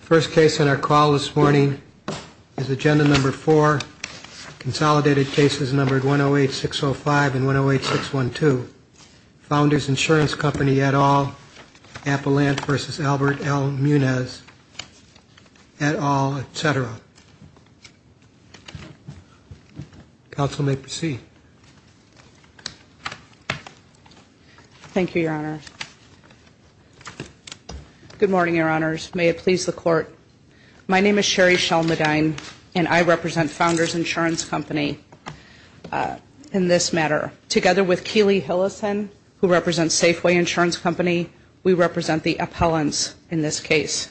First case on our call this morning is Agenda Number 4, Consolidated Cases numbered 108-605 and 108-612. Founders Insurance Company et al., Appalant v. Albert L. Munoz et al., etc. Counsel may proceed. Thank you, Your Honor. Good morning, Your Honors. May it please the Court, my name is Sherry Schell-Medine and I represent Founders Insurance Company in this matter. Together with Keeley Hillison, who represents Safeway Insurance Company, we represent the Appalants in this case.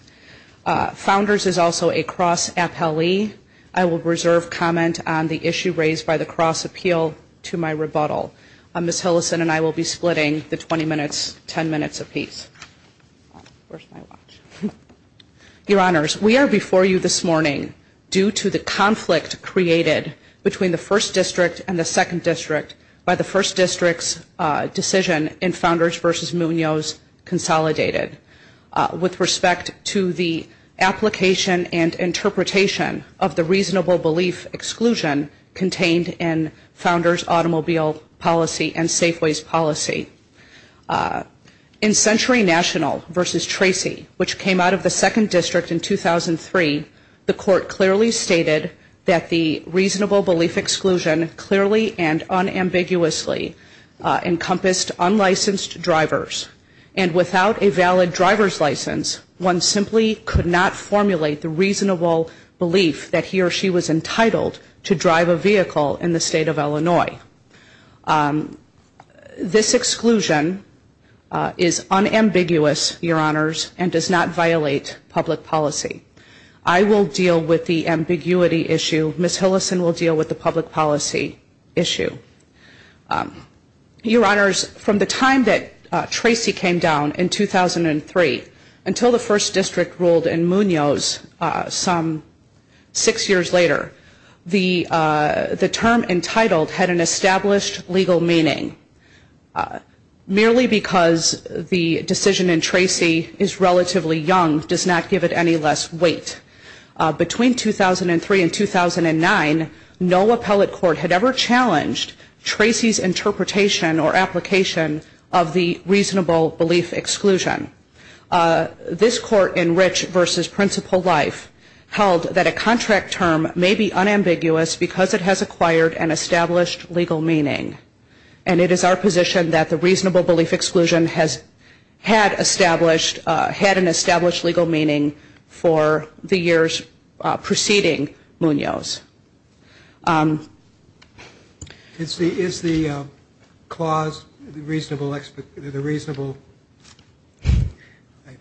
Founders is also a cross-appellee. I will reserve comment on the issue raised by the cross-appeal to my rebuttal. Ms. Hillison and I will be splitting the 20 minutes, 10 minutes apiece. Your Honors, we are before you this morning due to the conflict created between the First District and the Second District by the First District's decision in Founders v. Munoz, Consolidated, with respect to the application and interpretation of the policy and Safeway's policy. In Century National v. Tracy, which came out of the Second District in 2003, the Court clearly stated that the reasonable belief exclusion clearly and unambiguously encompassed unlicensed drivers. And without a valid driver's license, one simply could not formulate the reasonable belief that he or she was entitled to drive a vehicle in the area. This exclusion is unambiguous, Your Honors, and does not violate public policy. I will deal with the ambiguity issue. Ms. Hillison will deal with the public policy issue. Your Honors, from the time that Tracy came down in 2003 until the First District ruled in Munoz some six years later, the term entitled had an established legal meaning. Merely because the decision in Tracy is relatively young does not give it any less weight. Between 2003 and 2009, no appellate court had ever challenged Tracy's interpretation or application of the reasonable belief exclusion. This Court in Rich v. Principal Life held that a contract term may be unambiguous because it has acquired and established legal meaning. And it is our position that the reasonable belief exclusion has had established, had an established legal meaning for the years preceding Munoz. Is the, is the clause reasonable, the reasonable, I'm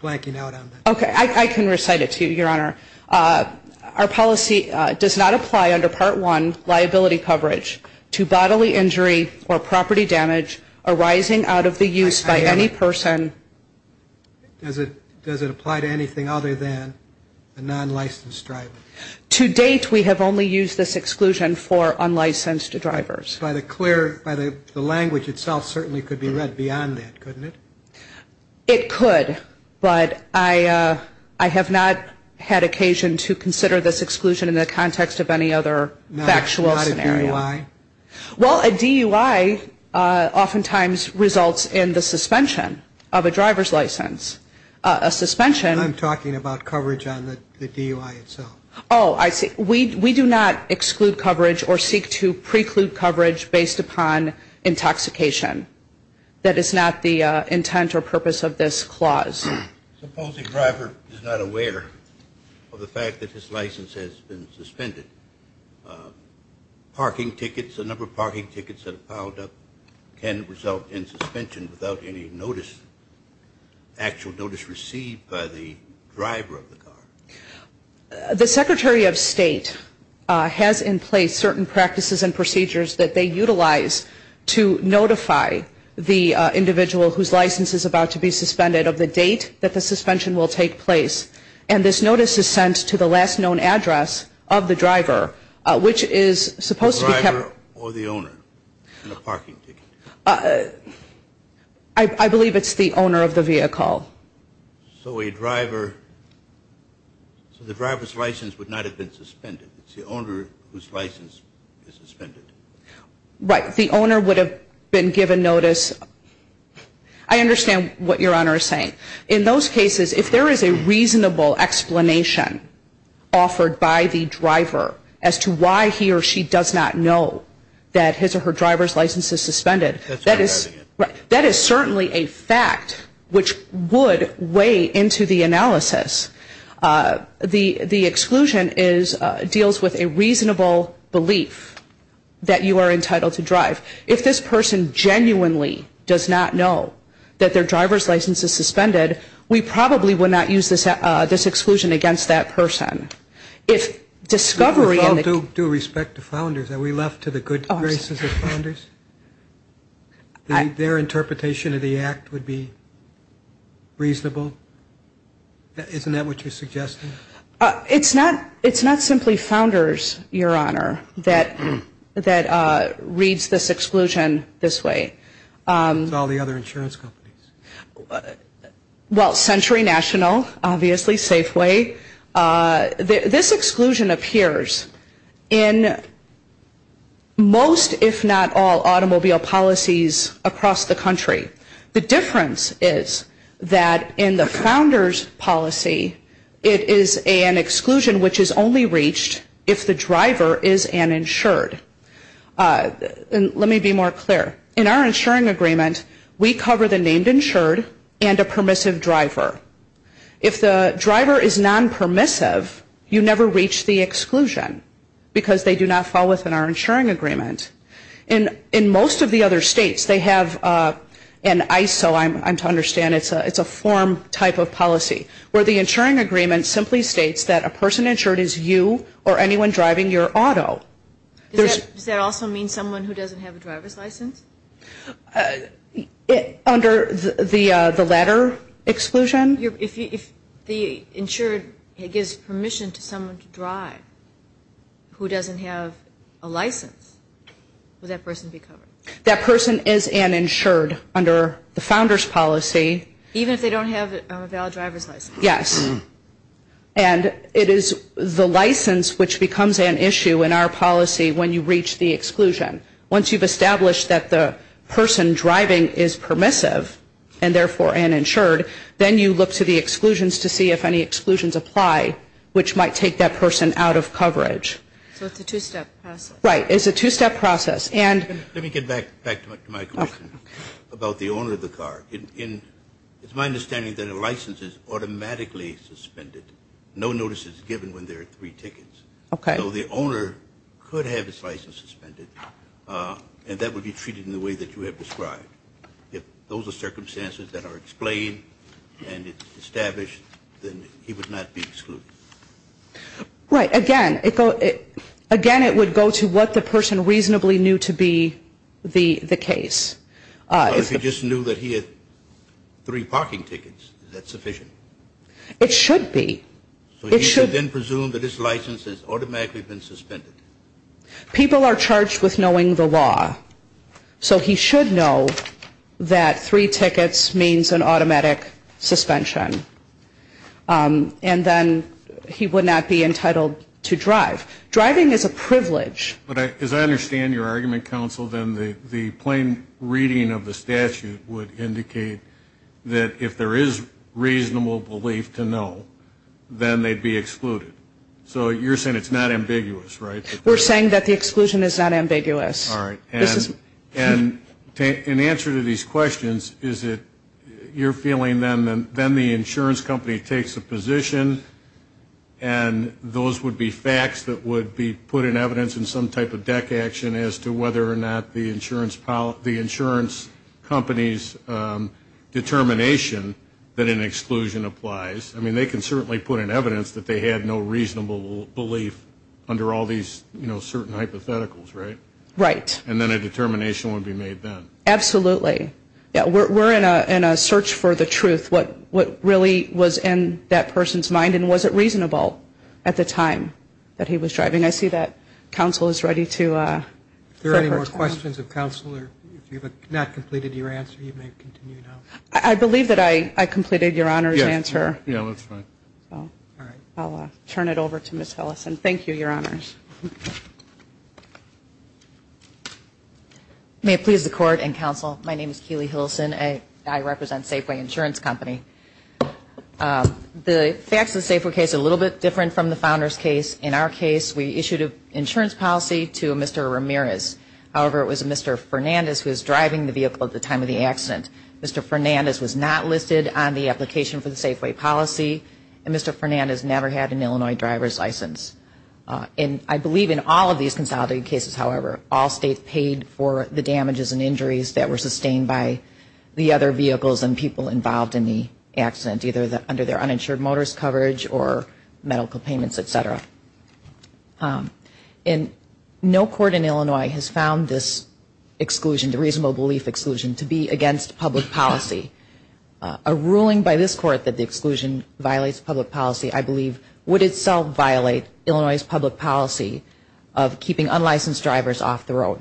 blanking out on that. Okay. I can recite it to you, Your Honor. Our policy does not apply under Part 1, the reasonable belief exclusion clause. It does not apply. I have, does it apply to anything other than a non-licensed driver? To date we have only used this exclusion for unlicensed drivers. By the clear, by the, the language itself certainly could be read beyond that couldn't it? It could. But I, I have not had occasion to consider this exclusion in the context of any other factual reason. Well, a DUI often times results in the suspension of a driver's license. A suspension. I'm talking about coverage on the DUI itself. Oh, I see. We, we do not exclude coverage or seek to preclude coverage based upon intoxication. That is not the intent or purpose of this clause. Supposing a driver is not aware of the fact that his license has been suspended. Parking tickets, a number of parking tickets that have piled up can result in suspension without any notice, actual notice received by the driver of the car. The Secretary of State has in place certain practices and procedures that they utilize to notify the individual whose license is about to be suspended of the date that the suspension will take place. And this notice is sent to the last known address of the driver, which is supposed to be kept. The driver or the owner of the parking ticket? I, I believe it's the owner of the vehicle. So a driver, so the driver's license would not have been suspended. It's the owner whose license is suspended. Right. The owner would have been given notice. I understand what Your Honor is saying. In those cases, if there is a reasonable explanation offered by the driver as to why he or she does not know that his or her driver's license is suspended, that is certainly a fact which would weigh into the analysis. The, the exclusion is, deals with a reasonable belief that you are entitled to drive. If this person genuinely does not know that their driver's license is suspended, we probably would not use this, this exclusion against that person. With all due respect to Founders, are we left to the good graces of Founders? Their interpretation of the Act would be reasonable? Isn't that what you're suggesting? It's not, it's not simply Founders, Your Honor, that, that reads this exclusion this way. It's all the other insurance companies. Well, Century National, obviously, Safeway, this exclusion appears in most, if not all, automobile policies across the country. The difference is that in the Founders policy, it is the driver's license that is suspended. It is an exclusion which is only reached if the driver is an insured. And let me be more clear. In our insuring agreement, we cover the named insured and a permissive driver. If the driver is non-permissive, you never reach the exclusion, because they do not fall within our insuring agreement. In, in most of the other states, they have an ISO, I'm, I'm to understand, it's a, it's a form type of policy, where the insuring agreement simply states that a person insured is you or anyone driving your auto. Does that, does that also mean someone who doesn't have a driver's license? Under the, the latter exclusion? If the insured gives permission to someone to drive who doesn't have a license, would that person be covered? That person is an insured under the Founders policy. Even if they don't have a valid driver's license? Yes. And it is the license which becomes an issue in our policy when you reach the exclusion. Once you've established that the person driving is permissive, and therefore an insured, then you look to the exclusions to see if any exclusions apply, which might take that person out of coverage. So it's a two-step process. Right. It's a two-step process. Let me get back to my question about the owner of the car. It's my understanding that a license is automatically suspended. No notice is given when there are three tickets. So the owner could have his license suspended, and that would be treated in the way that you have described. If those are circumstances that are explained and established, then he would not be excluded. Right. Again, it would go to what the person reasonably knew to be the case. If he just knew that he had three parking tickets, is that sufficient? It should be. So he should then presume that his license has automatically been suspended. People are charged with knowing the law. So he should know that three tickets means an automatic suspension. And then he would not be entitled to drive. Driving is a privilege. But as I understand your argument, counsel, then the plain reading of the statute would indicate that if there is reasonable belief to know, then they'd be excluded. So you're saying it's not ambiguous, right? All right. And an answer to these questions is that you're feeling then the insurance company takes a position, and those would be facts that would be put in evidence in some type of deck action as to whether or not the insurance company's determination that an exclusion applies. I mean, they can certainly put in evidence that they had no reasonable belief under all these certain hypotheticals, right? And then a determination would be made then. Absolutely. We're in a search for the truth, what really was in that person's mind, and was it reasonable at the time that he was driving. I see that counsel is ready to separate. Are there any more questions of counsel? If you have not completed your answer, you may continue now. I believe that I completed Your Honor's answer. Yeah, that's fine. I'll turn it over to Ms. Hillison. Thank you, Your Honors. May it please the Court and counsel, my name is Keely Hillison, and I represent Safeway Insurance Company. The facts of the Safeway case are a little bit different from the Founder's case. In our case, we issued an insurance policy to Mr. Ramirez. However, it was Mr. Fernandez who was driving the vehicle at the time of the accident. Mr. Fernandez was not listed on the application for the Safeway policy, and Mr. Fernandez never had an Illinois driver's license. And I believe in all of these consolidated cases, however, all states paid for the damages and injuries that were sustained by the other vehicles and people involved in the accident, either under their uninsured motorist coverage or medical payments, et cetera. And no court in Illinois has found this exclusion, the reasonable belief exclusion, to be against public policy. A ruling by this court that the exclusion violates public policy, I believe, would itself violate Illinois' public policy of keeping unlicensed drivers off the road.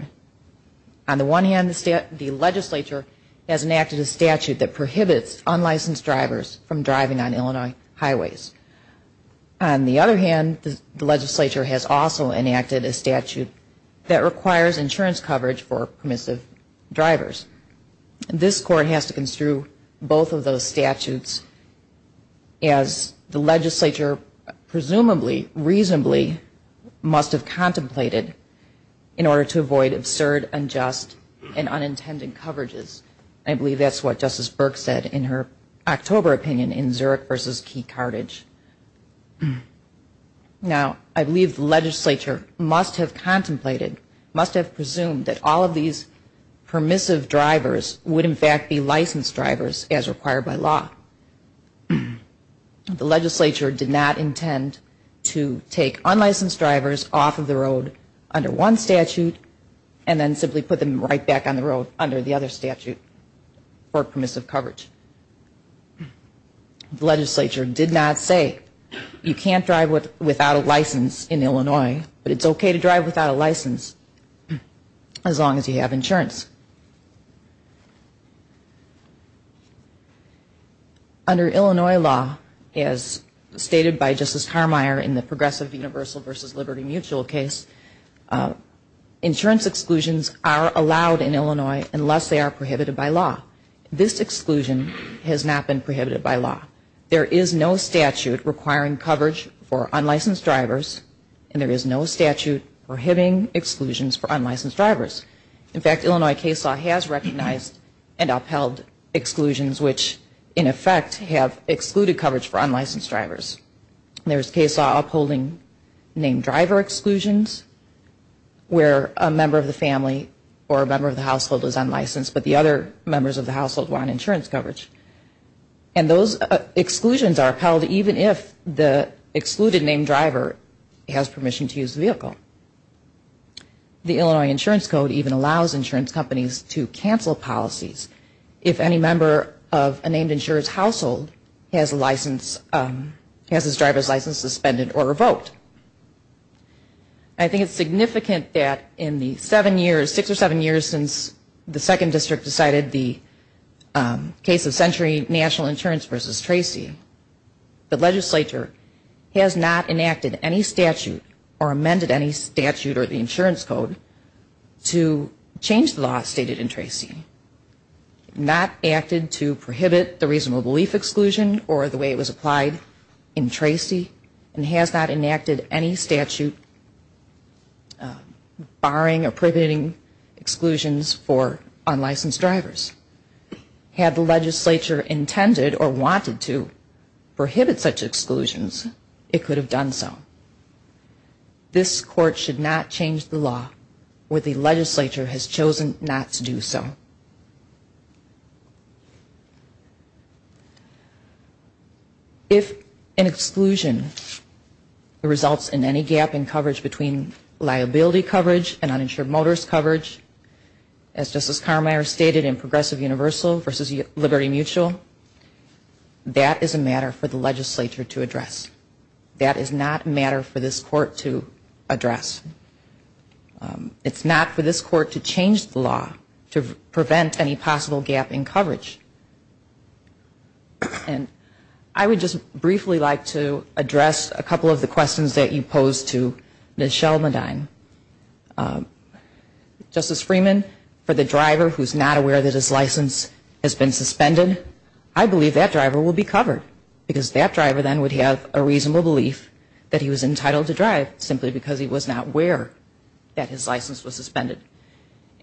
On the one hand, the legislature has enacted a statute that prohibits unlicensed drivers from driving on Illinois highways. On the other hand, the legislature has also enacted a statute that requires insurance coverage for permissive drivers. This court has to construe both of those statutes as the legislature presumably, reasonably must have contemplated in order to avoid absurd, unjust, and unintended coverages. I believe that's what Justice Burke said in her October opinion in Zurich v. Key Carthage. Now, I believe the legislature must have contemplated, must have presumed that all of these permissive drivers would in fact be licensed drivers as required by law. The legislature did not intend to take unlicensed drivers off of the road under one statute and then simply put them right back on the road under the other statute for permissive coverage. The legislature did not say you can't drive without a license in Illinois, but it's okay to drive without a license as long as you have insurance. Under Illinois law, as stated by Justice Carmeier in the Progressive Universal v. Liberty Mutual case, insurance exclusions are allowed in Illinois unless they are prohibited by law. This exclusion has not been prohibited by law. There is no statute requiring coverage for unlicensed drivers, and there is no statute prohibiting exclusions for unlicensed drivers. In fact, Illinois case law has recognized and upheld exclusions which in effect have excluded coverage for unlicensed drivers. There's case law upholding named driver exclusions where a member of the family or a member of the household is unlicensed, but the other members of the household want insurance coverage. And those exclusions are upheld even if the excluded named driver has permission to use the vehicle. The Illinois Insurance Code even allows insurance companies to cancel policies if any member of a named insurance household has his driver's license suspended or revoked. I think it's significant that in the seven years, six or seven years, since the second district decided the case of Century National Insurance v. Tracy, the legislature has not enacted any statute or amended any statute or the insurance code to change the law stated in Tracy. It has not acted to prohibit the reasonable belief exclusion or the way it was applied in Tracy, and has not enacted any statute barring or prohibiting exclusions for unlicensed drivers. Had the legislature intended or wanted to prohibit such exclusions, it could have done so. This court should not change the law where the legislature has chosen not to do so. If an exclusion results in any gap in coverage between liability coverage and uninsured motorist coverage, as Justice Carmeier stated in Progressive Universal v. Liberty Mutual, that is a matter for the legislature to address. That is not a matter for this court to address. It's not for this court to change the law to prevent any possible gap in coverage. And I would just briefly like to address a couple of the questions that you posed to Ms. Sheldon-Medine. Justice Freeman, for the driver who is not aware that his license has been suspended, I believe that driver will be covered, because that driver then would have a reasonable belief that he was entitled to drive simply because he was not aware that his license was suspended.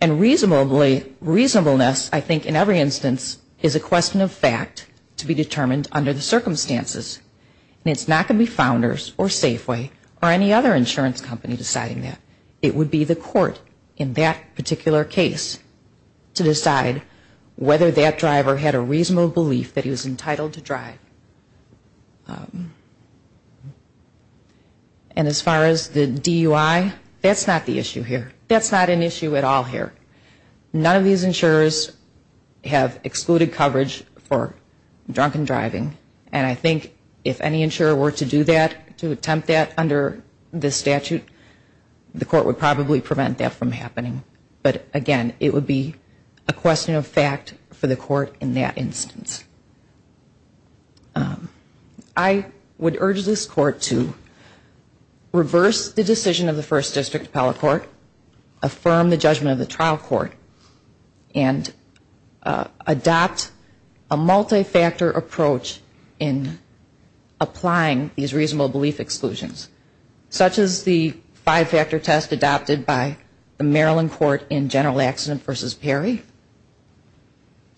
And reasonableness, I think in every instance, is a question of fact to be determined under the circumstances. And it's not going to be Founders or Safeway or any other insurance company deciding that. It would be the court in that particular case to decide whether that driver had a reasonable belief that he was entitled to drive. And as far as the DUI, that's not the issue here. That's not an issue at all here. None of these insurers have excluded coverage for drunken driving, and I think if any insurer were to do that, to attempt that under this statute, the court would probably prevent that from happening. But again, it would be a question of fact for the court in that instance. I would urge this Court to reverse the decision of the First District Appellate Court, affirm the judgment of the trial court, and adopt a multi-factor approach in applying these reasonable belief exclusions, such as the five-factor test adopted by the Maryland Court in General Accident v. Perry.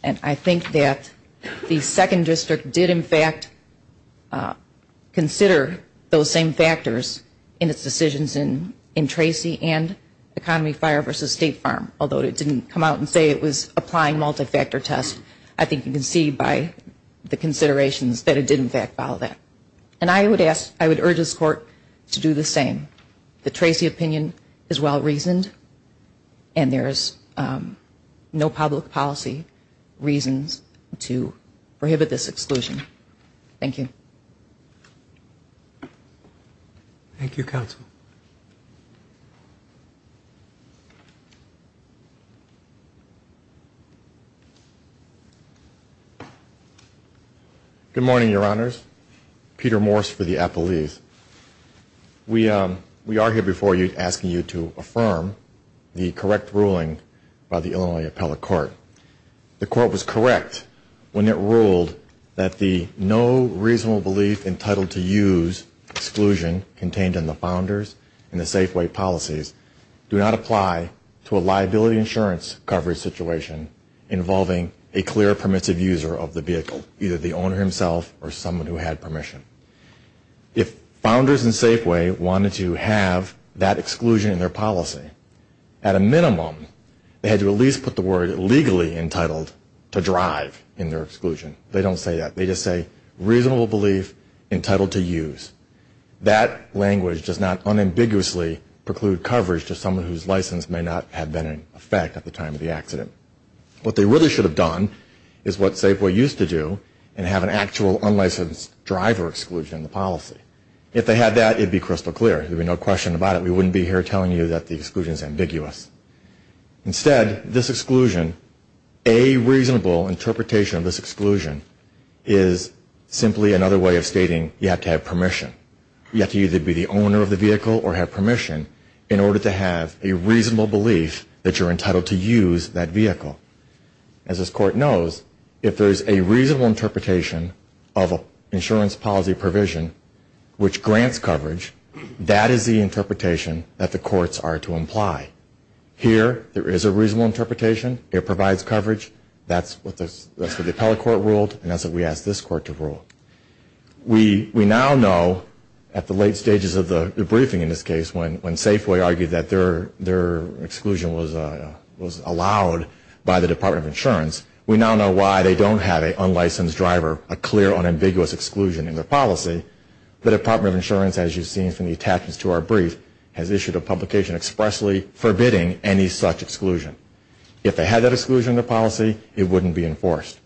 And I think that the Second District did, in fact, consider those same factors in its decisions in Tracy and Economy Fire v. State Farm, although it didn't come out and say it was applying multi-factor tests. And I think you can see by the considerations that it did, in fact, follow that. And I would urge this Court to do the same. The Tracy opinion is well-reasoned, and there's no public policy reasons to prohibit this exclusion. Thank you. Good morning, Your Honors. Peter Morse for the appellees. We are here before you asking you to affirm the correct ruling by the Illinois Appellate Court. The Court was correct when it ruled that the no reasonable belief entitled to use exclusion contained in the founders and the Safeway policies do not apply to a liability insurance coverage situation involving a clear permissive user of the vehicle, either the owner himself or someone who had permission. If founders and Safeway wanted to have that exclusion in their policy, at a minimum they had to at least put the word legally entitled to drive in their exclusion. They don't say that. They just say reasonable belief entitled to use. That language does not unambiguously preclude coverage to someone whose license may not have been in effect at the time of the accident. What they really should have done is what Safeway used to do and have an actual unlicensed driver exclusion in the policy. If they had that, it would be crystal clear. There would be no question about it. We wouldn't be here telling you that the exclusion is ambiguous. Instead, this exclusion, a reasonable interpretation of this exclusion is simply another way of stating you have to have permission. You have to either be the owner of the vehicle or have permission in order to have a reasonable belief that you are entitled to use that vehicle. As this court knows, if there is a reasonable interpretation of an insurance policy provision which grants coverage, that is the interpretation that the courts are to imply. Here, there is a reasonable interpretation. It provides coverage. That's what the appellate court ruled and that's what we asked this court to rule. We now know at the late stages of the briefing in this case when Safeway argued that their exclusion was allowed by the Department of Insurance, we now know why they don't have an unlicensed driver, a clear, unambiguous exclusion in their policy. The Department of Insurance, as you've seen from the attachments to our brief, has issued a publication expressly forbidding any such exclusion. If they had that exclusion in their policy, it wouldn't be enforced.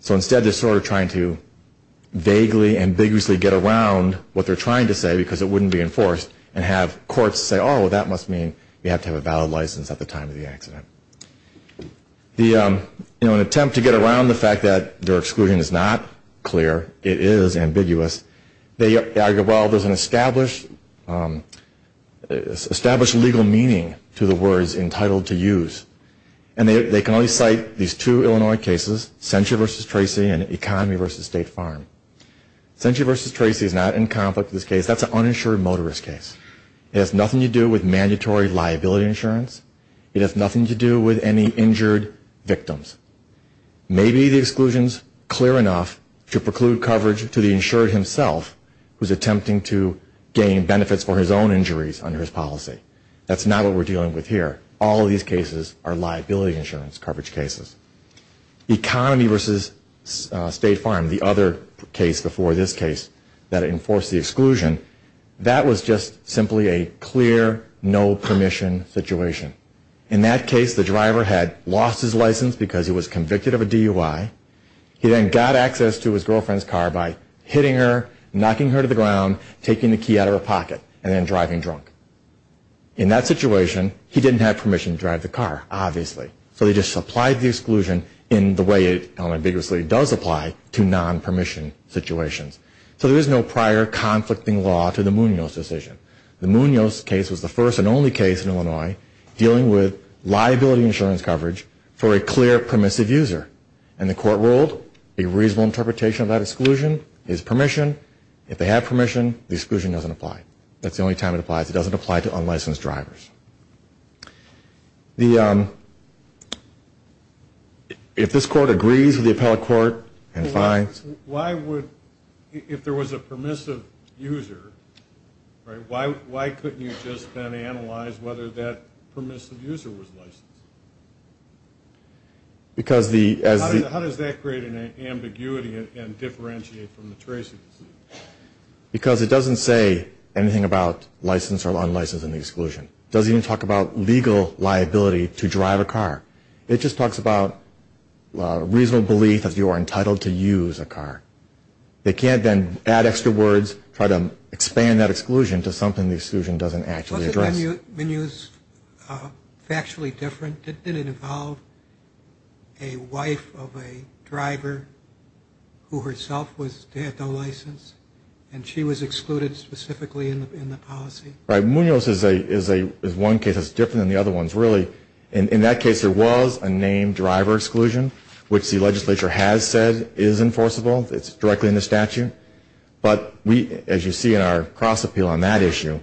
So instead, they're sort of trying to vaguely, ambiguously get around what they're trying to say because it wouldn't be enforced and have courts say, oh, that must mean you have to have a valid license at the time of the accident. In an attempt to get around the fact that their exclusion is not clear, it is ambiguous, they argue, well, there's an established legal meaning to the words entitled to use and they can only cite these two Illinois cases, Century v. Tracy and Economy v. State Farm. Century v. Tracy is not in conflict with this case. That's an uninsured motorist case. It has nothing to do with mandatory liability insurance. It has nothing to do with any injured victims. Maybe the exclusion is clear enough to preclude coverage to the insured himself who's attempting to gain benefits for his own injuries under his policy. That's not what we're dealing with here. All of these cases are liability insurance coverage cases. Economy v. State Farm, the other case before this case that enforced the exclusion, that was just simply a clear no permission situation. In that case, the driver had lost his license because he was convicted of a DUI. He then got access to his girlfriend's car by hitting her, knocking her to the ground, taking the key out of her pocket, and then driving drunk. In that situation, he didn't have permission to drive the car, obviously. So they just supplied the exclusion in the way it unambiguously does apply to non-permission situations. So there is no prior conflicting law to the Munoz decision. The Munoz case was the first and only case in Illinois dealing with liability insurance coverage for a clear permissive user, and the court ruled a reasonable interpretation of that exclusion is permission. If they have permission, the exclusion doesn't apply. That's the only time it applies. It doesn't apply to unlicensed drivers. If this court agrees with the appellate court and finds... Why would, if there was a permissive user, why couldn't you just then analyze whether that permissive user was licensed? How does that create an ambiguity and differentiate from the tracing? Because it doesn't say anything about licensed or unlicensed in the exclusion. It doesn't even talk about legal liability to drive a car. It just talks about reasonable belief that you are entitled to use a car. They can't then add extra words, try to expand that exclusion to something the exclusion doesn't actually address. Wasn't that Munoz factually different? Did it involve a wife of a driver who herself had no license, and she was excluded specifically in the policy? Munoz is one case that's different than the other ones, really. In that case, there was a named driver exclusion, which the legislature has said is enforceable. It's directly in the statute. But as you see in our cross-appeal on that issue,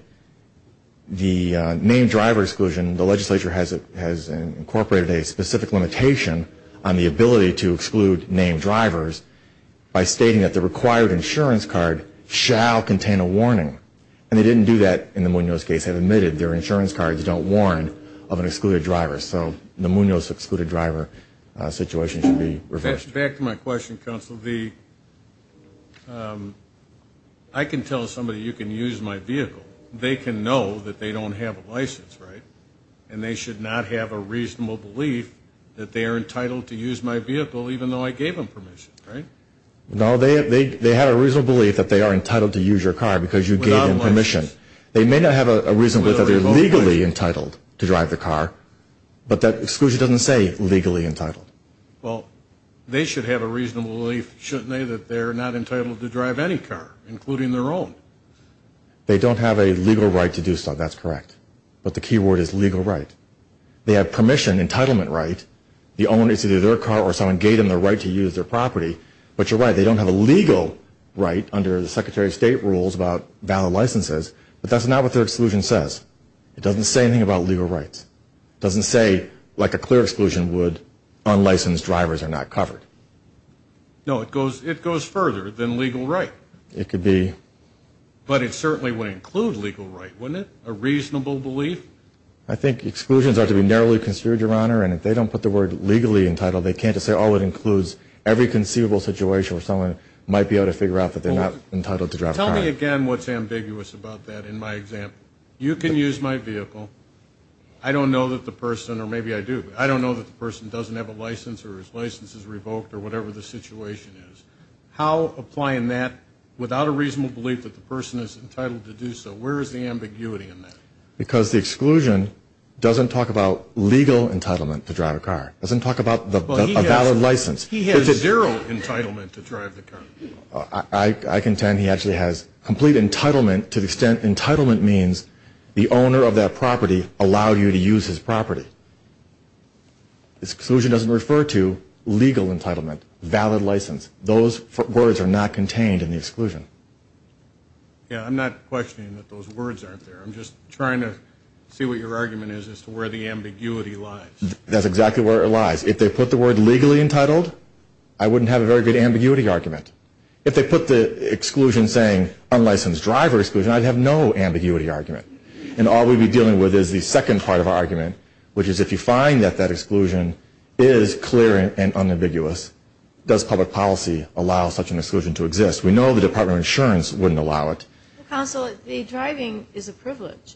the named driver exclusion, the legislature has incorporated a specific limitation on the ability to exclude named drivers by stating that the required insurance card shall contain a warning. And they didn't do that in the Munoz case. They admitted their insurance cards don't warn of an excluded driver. So the Munoz excluded driver situation should be reversed. Back to my question, Counsel. I can tell somebody you can use my vehicle. They can know that they don't have a license, right? And they should not have a reasonable belief that they are entitled to use my vehicle, even though I gave them permission, right? No, they have a reasonable belief that they are entitled to use your car because you gave them permission. They may not have a reasonable belief that they're legally entitled to drive the car, but that exclusion doesn't say legally entitled. Well, they should have a reasonable belief, shouldn't they, that they're not entitled to drive any car, including their own? They don't have a legal right to do so. That's correct, but the key word is legal right. They have permission, entitlement right. The owner needs to do their car or someone gave them the right to use their property. But you're right, they don't have a legal right under the Secretary of State rules about valid licenses, but that's not what their exclusion says. It doesn't say anything about legal rights. It doesn't say, like a clear exclusion would, unlicensed drivers are not covered. No, it goes further than legal right. It could be. But it certainly would include legal right, wouldn't it, a reasonable belief? I think exclusions are to be narrowly construed, Your Honor, and if they don't put the word legally entitled, they can't just say, oh, it includes every conceivable situation where someone might be able to figure out that they're not entitled to drive a car. Tell me again what's ambiguous about that in my example. You can use my vehicle. I don't know that the person, or maybe I do, but I don't know that the person doesn't have a license or his license is revoked or whatever the situation is. How applying that without a reasonable belief that the person is entitled to do so, where is the ambiguity in that? Because the exclusion doesn't talk about legal entitlement to drive a car. It doesn't talk about a valid license. He has zero entitlement to drive the car. I contend he actually has complete entitlement to the extent entitlement means the owner of that property allowed you to use his property. The exclusion doesn't refer to legal entitlement, valid license. Those words are not contained in the exclusion. Yeah, I'm not questioning that those words aren't there. I'm just trying to see what your argument is as to where the ambiguity lies. That's exactly where it lies. If they put the word legally entitled, I wouldn't have a very good ambiguity argument. If they put the exclusion saying unlicensed driver exclusion, I'd have no ambiguity argument. And all we'd be dealing with is the second part of our argument, which is if you find that that exclusion is clear and unambiguous, does public policy allow such an exclusion to exist? We know the Department of Insurance wouldn't allow it. Counsel, the driving is a privilege.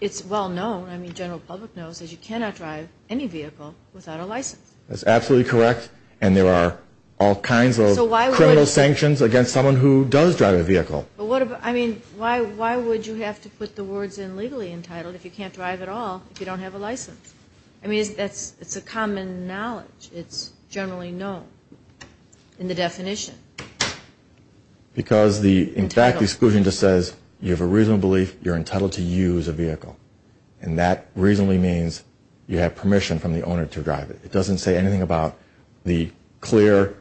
It's well known, the general public knows, that you cannot drive any vehicle without a license. That's absolutely correct, and there are all kinds of criminal sanctions against someone who does drive a vehicle. Why would you have to put the words in legally entitled if you can't drive at all if you don't have a license? It's a common knowledge. It's generally known in the definition. Because, in fact, the exclusion just says you have a reasonable belief you're entitled to use a vehicle, and that reasonably means you have permission from the owner to drive it. It doesn't say anything about the clear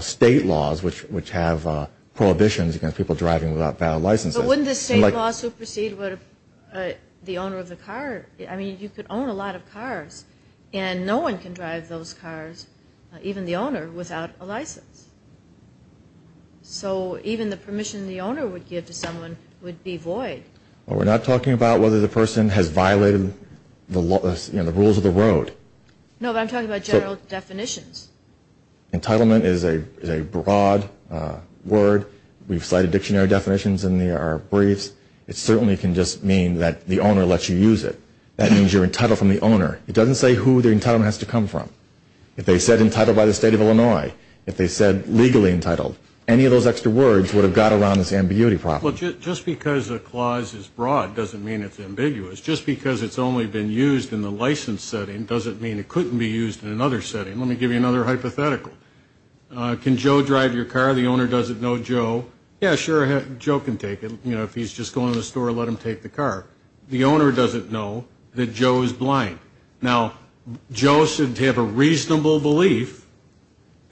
state laws, which have prohibitions against people driving without valid licenses. But wouldn't the state law supersede the owner of the car? I mean, you could own a lot of cars, and no one can drive those cars, even the owner, without a license. So even the permission the owner would give to someone would be void. Well, we're not talking about whether the person has violated the rules of the road. No, but I'm talking about general definitions. Entitlement is a broad word. We've cited dictionary definitions in our briefs. It certainly can just mean that the owner lets you use it. That means you're entitled from the owner. It doesn't say who the entitlement has to come from. If they said entitled by the state of Illinois, if they said legally entitled, any of those extra words would have got around this ambiguity problem. Well, just because a clause is broad doesn't mean it's ambiguous. Just because it's only been used in the license setting doesn't mean it couldn't be used in another setting. Let me give you another hypothetical. Can Joe drive your car? The owner doesn't know Joe. Yeah, sure, Joe can take it. You know, if he's just going to the store, let him take the car. Now, Joe should have a reasonable belief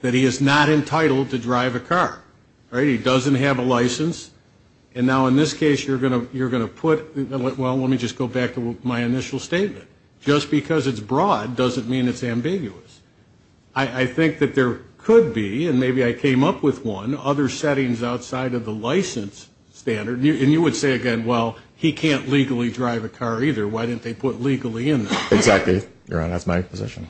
that he is not entitled to drive a car, right? He doesn't have a license. And now in this case, you're going to put, well, let me just go back to my initial statement. Just because it's broad doesn't mean it's ambiguous. I think that there could be, and maybe I came up with one, other settings outside of the license standard. And you would say, again, well, he can't legally drive a car either. Why didn't they put legally in there? Exactly, Your Honor, that's my position.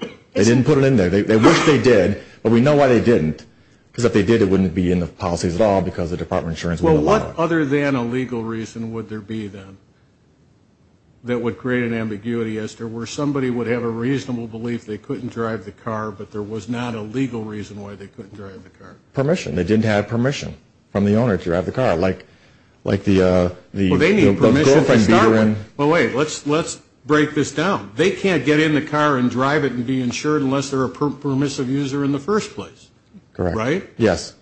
They didn't put it in there. They wish they did, but we know why they didn't. Because if they did, it wouldn't be in the policies at all because the Department of Insurance wouldn't allow it. Well, what other than a legal reason would there be, then, that would create an ambiguity as to where somebody would have a reasonable belief they couldn't drive the car, but there was not a legal reason why they couldn't drive the car? Permission. They didn't have permission from the owner to drive the car, like the girlfriend. Well, wait, let's break this down. They can't get in the car and drive it and be insured unless they're a permissive user in the first place, right? Yes.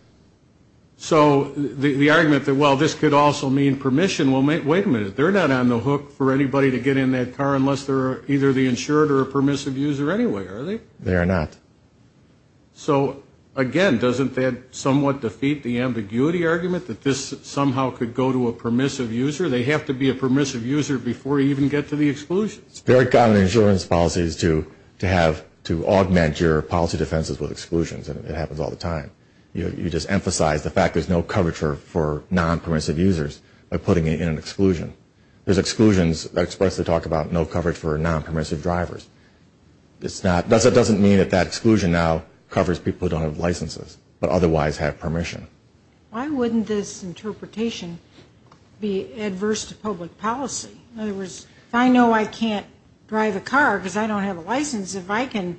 So the argument that, well, this could also mean permission, well, wait a minute, they're not on the hook for anybody to get in that car unless they're either the insured or a permissive user anyway, are they? They are not. So, again, doesn't that somewhat defeat the ambiguity argument that this somehow could go to a permissive user? They have to be a permissive user before you even get to the exclusion. It's very common in insurance policies to augment your policy defenses with exclusions, and it happens all the time. You just emphasize the fact there's no coverage for non-permissive users by putting it in an exclusion. There's exclusions that expressly talk about no coverage for non-permissive drivers. That doesn't mean that that exclusion now covers people who don't have licenses but otherwise have permission. Why wouldn't this interpretation be adverse to public policy? In other words, if I know I can't drive a car because I don't have a license, if I can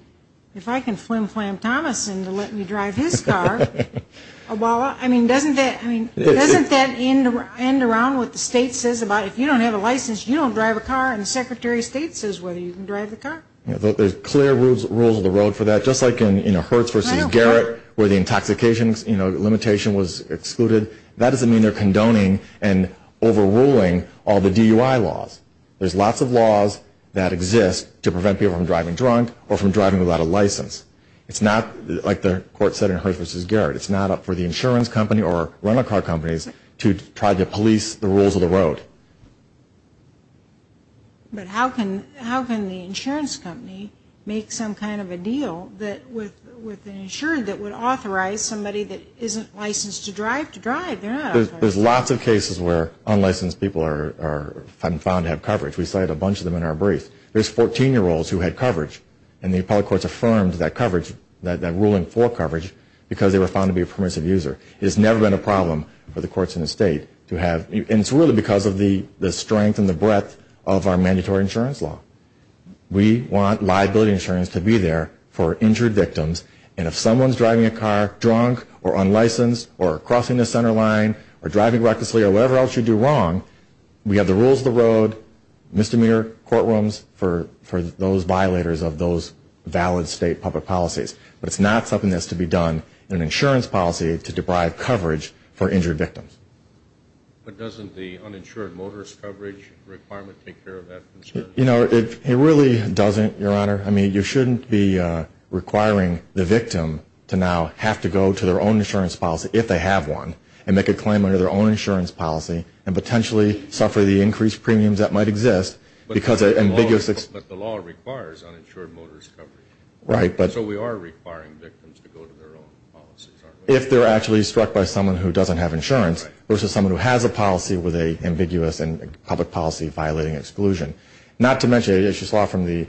flimflam Thomas and let me drive his car, doesn't that end around what the state says about if you don't have a license, you don't drive a car, and the Secretary of State says whether you can drive the car? There's clear rules of the road for that, just like in Hertz v. Garrett where the intoxication limitation was excluded. That doesn't mean they're condoning and overruling all the DUI laws. There's lots of laws that exist to prevent people from driving drunk or from driving without a license. It's not, like the court said in Hertz v. Garrett, it's not up for the insurance company or rental car companies to try to police the rules of the road. But how can the insurance company make some kind of a deal with an insurer that would authorize somebody that isn't licensed to drive to drive? There's lots of cases where unlicensed people are found to have coverage. We cited a bunch of them in our brief. There's 14-year-olds who had coverage, and the appellate courts affirmed that coverage, that ruling for coverage, because they were found to be a permissive user. It's never been a problem for the courts in the state to have, and it's really because of the strength and the breadth of our mandatory insurance law. We want liability insurance to be there for injured victims, and if someone's driving a car drunk or unlicensed or crossing the center line, or driving recklessly or whatever else you do wrong, we have the rules of the road, misdemeanor courtrooms, for those violators of those valid state public policies. But it's not something that's to be done in an insurance policy to deprive coverage for injured victims. But doesn't the uninsured motorist coverage requirement take care of that concern? You know, it really doesn't, Your Honor. I mean, you shouldn't be requiring the victim to now have to go to their own insurance policy, if they have one, and make a claim under their own insurance policy and potentially suffer the increased premiums that might exist because of ambiguous But the law requires uninsured motorist coverage. Right. So we are requiring victims to go to their own policies, aren't we? If they're actually struck by someone who doesn't have insurance versus someone who has a policy with an ambiguous and public policy violating exclusion. Not to mention, as you saw from the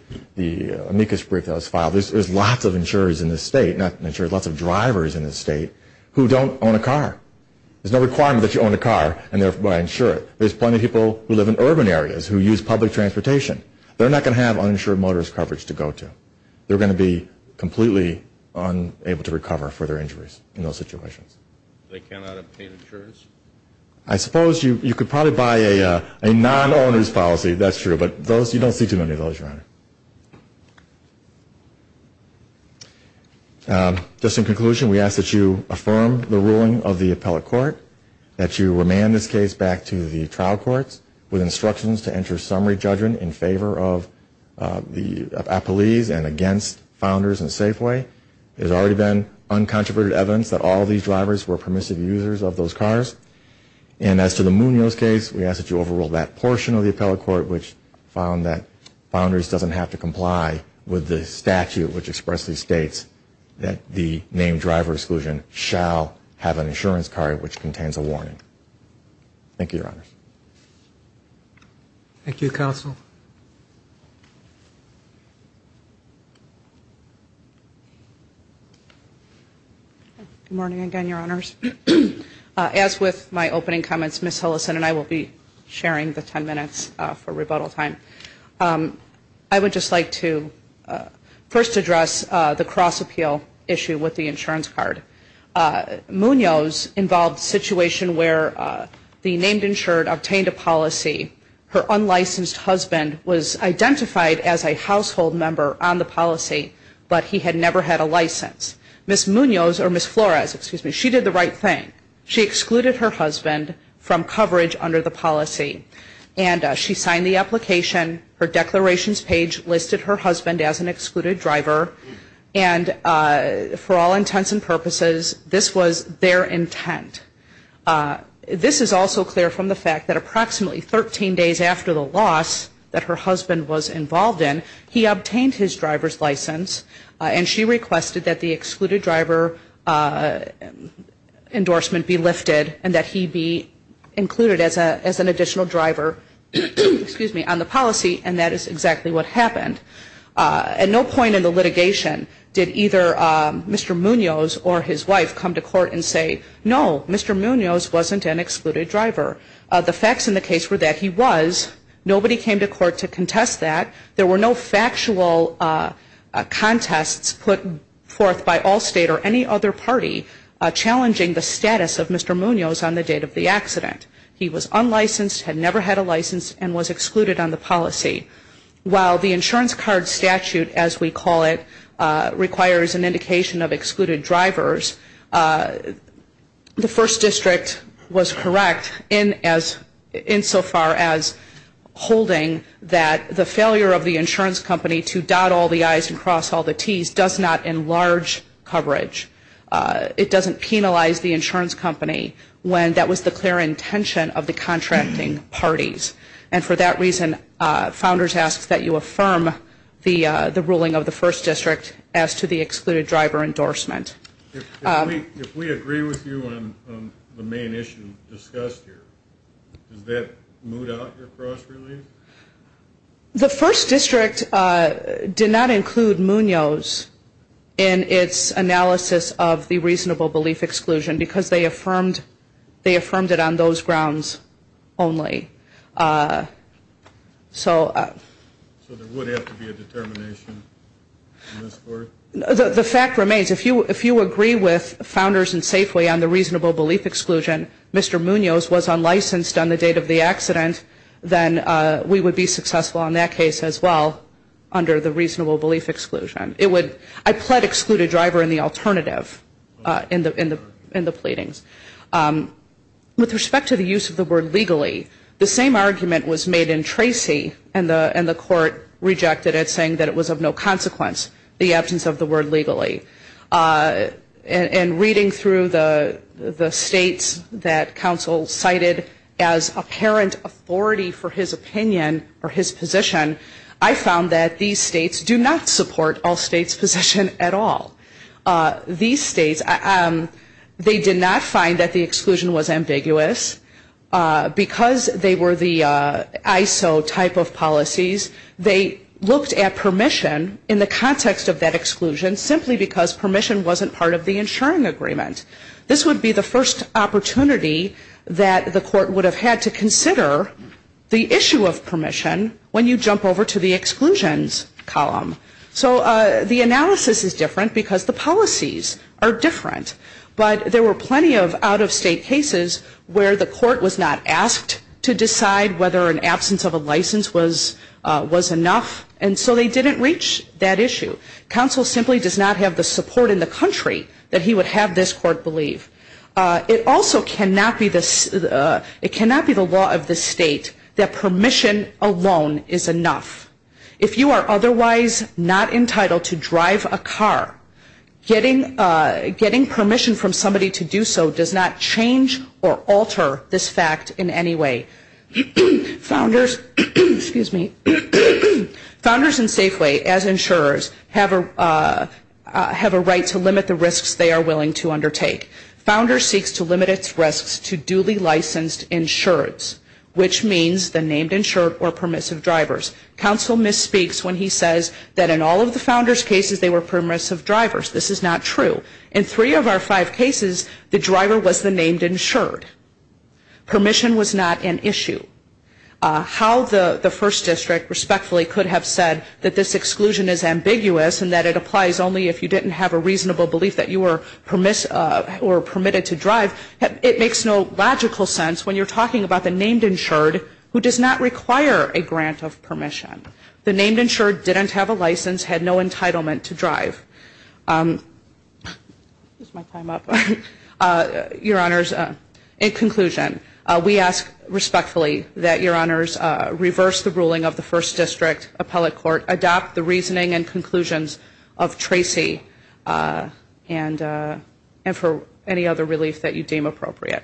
amicus brief that was filed, there's lots of insurers in this state, not insurers, lots of drivers in this state, who don't own a car. There's no requirement that you own a car and thereby insure it. There's plenty of people who live in urban areas who use public transportation. They're not going to have uninsured motorist coverage to go to. They're going to be completely unable to recover for their injuries in those situations. They cannot obtain insurance? I suppose you could probably buy a non-owners policy, that's true, but you don't see too many of those, Your Honor. Just in conclusion, we ask that you affirm the ruling of the appellate court, that you remand this case back to the trial courts with instructions to enter summary judgment in favor of the appellees and against Founders and Safeway. There's already been uncontroverted evidence that all these drivers were permissive users of those cars. And as to the Munoz case, we ask that you overrule that portion of the appellate court, which found that Founders doesn't have to comply with the statute which expressly states that the named driver exclusion shall have an insurance card which contains a warning. Thank you, Your Honor. Good morning again, Your Honors. I would just like to first address the cross-appeal issue with the insurance card. Munoz involved a situation where the named insured obtained a policy. Her unlicensed husband was identified as a household member on the policy, but he had never had a license. Ms. Munoz, or Ms. Flores, excuse me, she did the right thing. She excluded her husband from coverage under the policy. And she signed the application. Her declarations page listed her husband as an excluded driver. And for all intents and purposes, this was their intent. This is also clear from the fact that approximately 13 days after the loss that her husband was involved in, he obtained his driver's license, and she requested that the excluded driver endorsement be lifted and that he be included as an additional driver on the policy, and that is exactly what happened. At no point in the litigation did either Mr. Munoz or his wife come to court and say, no, Mr. Munoz wasn't an excluded driver. The facts in the case were that he was. Nobody came to court to contest that. There were no factual contests put forth by Allstate or any other party challenging the status of Mr. Munoz on the date of the accident. He was unlicensed, had never had a license, and was excluded on the policy. While the insurance card statute, as we call it, requires an indication of excluded drivers, the First District was correct insofar as holding that the failure of the insurance company to dot all the I's and cross all the T's does not enlarge coverage. It doesn't penalize the insurance company when that was the clear intention of the contracting parties. And for that reason, Founders asks that you affirm the ruling of the First District as to the excluded driver endorsement. If we agree with you on the main issue discussed here, does that moot out your cross release? The First District did not include Munoz in its analysis of the reasonable belief exclusion, because they affirmed it on those grounds only. So there would have to be a determination in this court? The fact remains, if you agree with Founders and Safeway on the reasonable belief exclusion, Mr. Munoz was unlicensed on the date of the accident, then we would be successful on that case as well under the reasonable belief exclusion. I pled excluded driver in the alternative in the pleadings. With respect to the use of the word legally, the same argument was made in Tracy, and the court rejected it, saying that it was of no consequence, the absence of the word legally. And reading through the states that counsel cited as apparent authority for his opinion or his position, I found that these states do not support all states' position at all. These states, they did not find that the exclusion was ambiguous, because they were the ISO type of policies. They looked at permission in the context of that exclusion simply because permission wasn't part of the insuring agreement. This would be the first opportunity that the court would have had to consider the issue of permission when you jump over to the exclusions column. So the analysis is different because the policies are different. But there were plenty of out-of-state cases where the court was not asked to decide whether an absence of a license was enough, and so they didn't reach that issue. Counsel simply does not have the support in the country that he would have this court believe. It also cannot be the law of the state that permission alone is enough. If you are otherwise not entitled to drive a car, getting permission from somebody to do so does not change or alter this fact in any way. Founders and Safeway, as insurers, have a right to limit the risks they are willing to undertake. Founders seeks to limit its risks to duly licensed insurers, which means the named insured or permissive drivers. Counsel misspeaks when he says that in all of the founders' cases they were permissive drivers. This is not true. In three of our five cases, the driver was the named insured. Permission was not an issue. How the First District respectfully could have said that this exclusion is ambiguous and that it applies only if you didn't have a reasonable belief that you were permitted to drive, it makes no logical sense when you're talking about the named insured who does not require a grant of permission. The named insured didn't have a license, had no entitlement to drive. In conclusion, we ask respectfully that Your Honors reverse the ruling of the First District Appellate Court, adopt the reasoning and conclusions of Tracy, and for any other relief that you deem appropriate.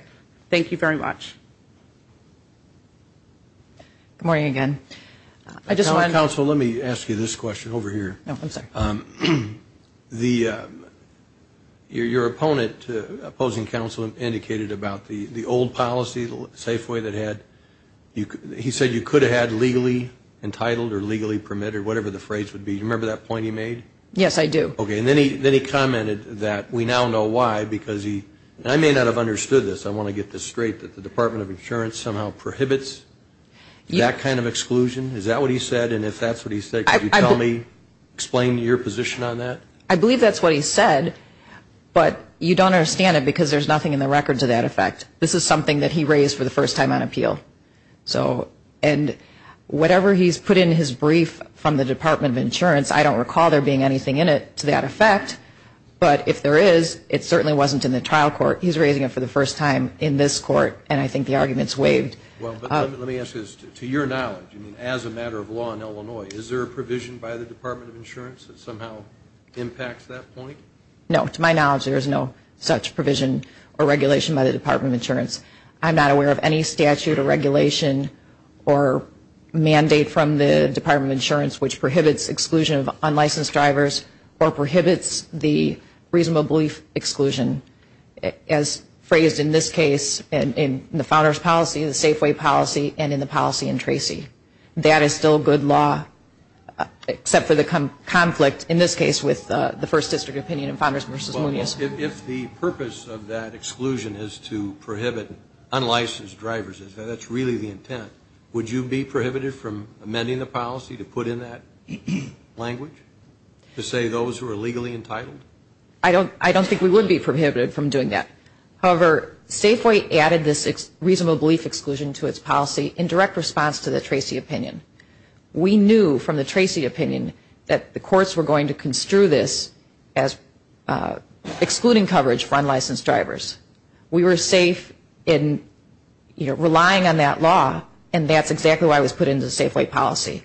Thank you very much. Good morning again. Counsel, let me ask you this question over here. Your opponent, opposing counsel, indicated about the old policy, the Safeway that had, he said you could have had legally entitled or legally permitted, whatever the phrase would be. Do you remember that point he made? Yes, I do. Okay, and then he commented that we now know why because he, and I may not have understood this. Can you explain your position on that? I believe that's what he said, but you don't understand it because there's nothing in the record to that effect. This is something that he raised for the first time on appeal. And whatever he's put in his brief from the Department of Insurance, I don't recall there being anything in it to that effect. But if there is, it certainly wasn't in the trial court. He's raising it for the first time in this court, and I think the argument's waived. Well, let me ask this. To your knowledge, as a matter of law in Illinois, is there a provision by the Department of Insurance that somehow impacts that point? No. To my knowledge, there is no such provision or regulation by the Department of Insurance. I'm not aware of any statute or regulation or mandate from the Department of Insurance which prohibits exclusion of unlicensed drivers or prohibits the reasonable belief exclusion, as phrased in this case in the Founder's policy, the Safeway policy, and in the policy in Tracy. That is still good law, except for the conflict, in this case, with the First District opinion in Founders v. Munoz. If the purpose of that exclusion is to prohibit unlicensed drivers, if that's really the intent, would you be prohibited from amending the policy to put in that language to say those who are legally entitled? I don't think we would be prohibited from doing that. However, Safeway added this reasonable belief exclusion to its policy in direct response to the Tracy opinion. We knew from the Tracy opinion that the courts were going to construe this as excluding coverage for unlicensed drivers. We were safe in relying on that law, and that's exactly why it was put into the Safeway policy.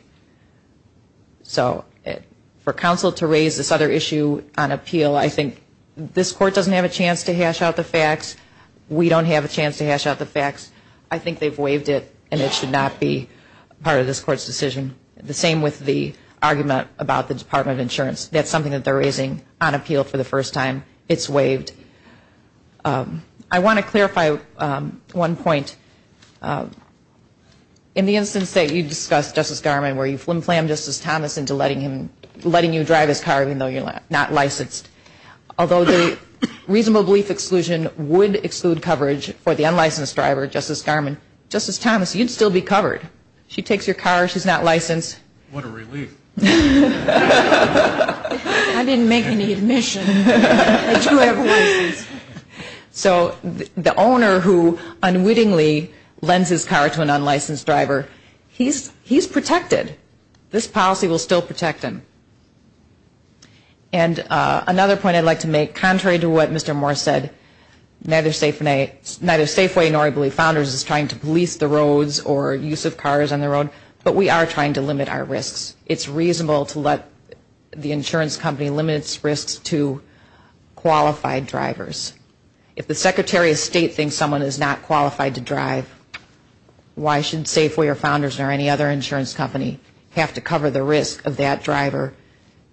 So for counsel to raise this other issue on appeal, I think this court doesn't have a chance to hash out the facts. We don't have a chance to hash out the facts. I think they've waived it, and it should not be part of this court's decision. The same with the argument about the Department of Insurance. That's something that they're raising on appeal for the first time. It's waived. I want to clarify one point. In the instance that you discussed, Justice Garman, where you flimflammed Justice Thomas into letting you drive his car even though you're not licensed, although the reasonable belief exclusion would exclude coverage for the unlicensed driver, Justice Garman, Justice Thomas, you'd still be covered. She takes your car. She's not licensed. What a relief. I didn't make any admission that you have a license. So the owner who unwittingly lends his car to an unlicensed driver, he's protected. This policy will still protect him. And another point I'd like to make, contrary to what Mr. Moore said, neither Safeway nor I believe Founders is trying to police the roads or use of cars on the road, but we are trying to limit our risks. It's reasonable to let the insurance company limit its risks to qualified drivers. If the Secretary of State thinks someone is not qualified to drive, why should Safeway or Founders or any other insurance company have to cover the risk of that driver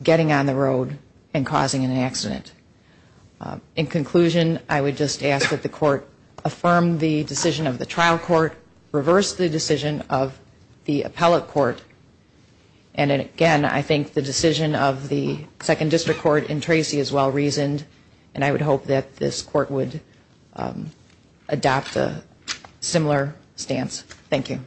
getting on the road and causing an accident? In conclusion, I would just ask that the Court affirm the decision of the trial court, reverse the decision of the appellate court, and again, I think the decision of the Second District Court in Tracy is well-reasoned, and I would hope that this Court would adopt a similar stance. Thank you.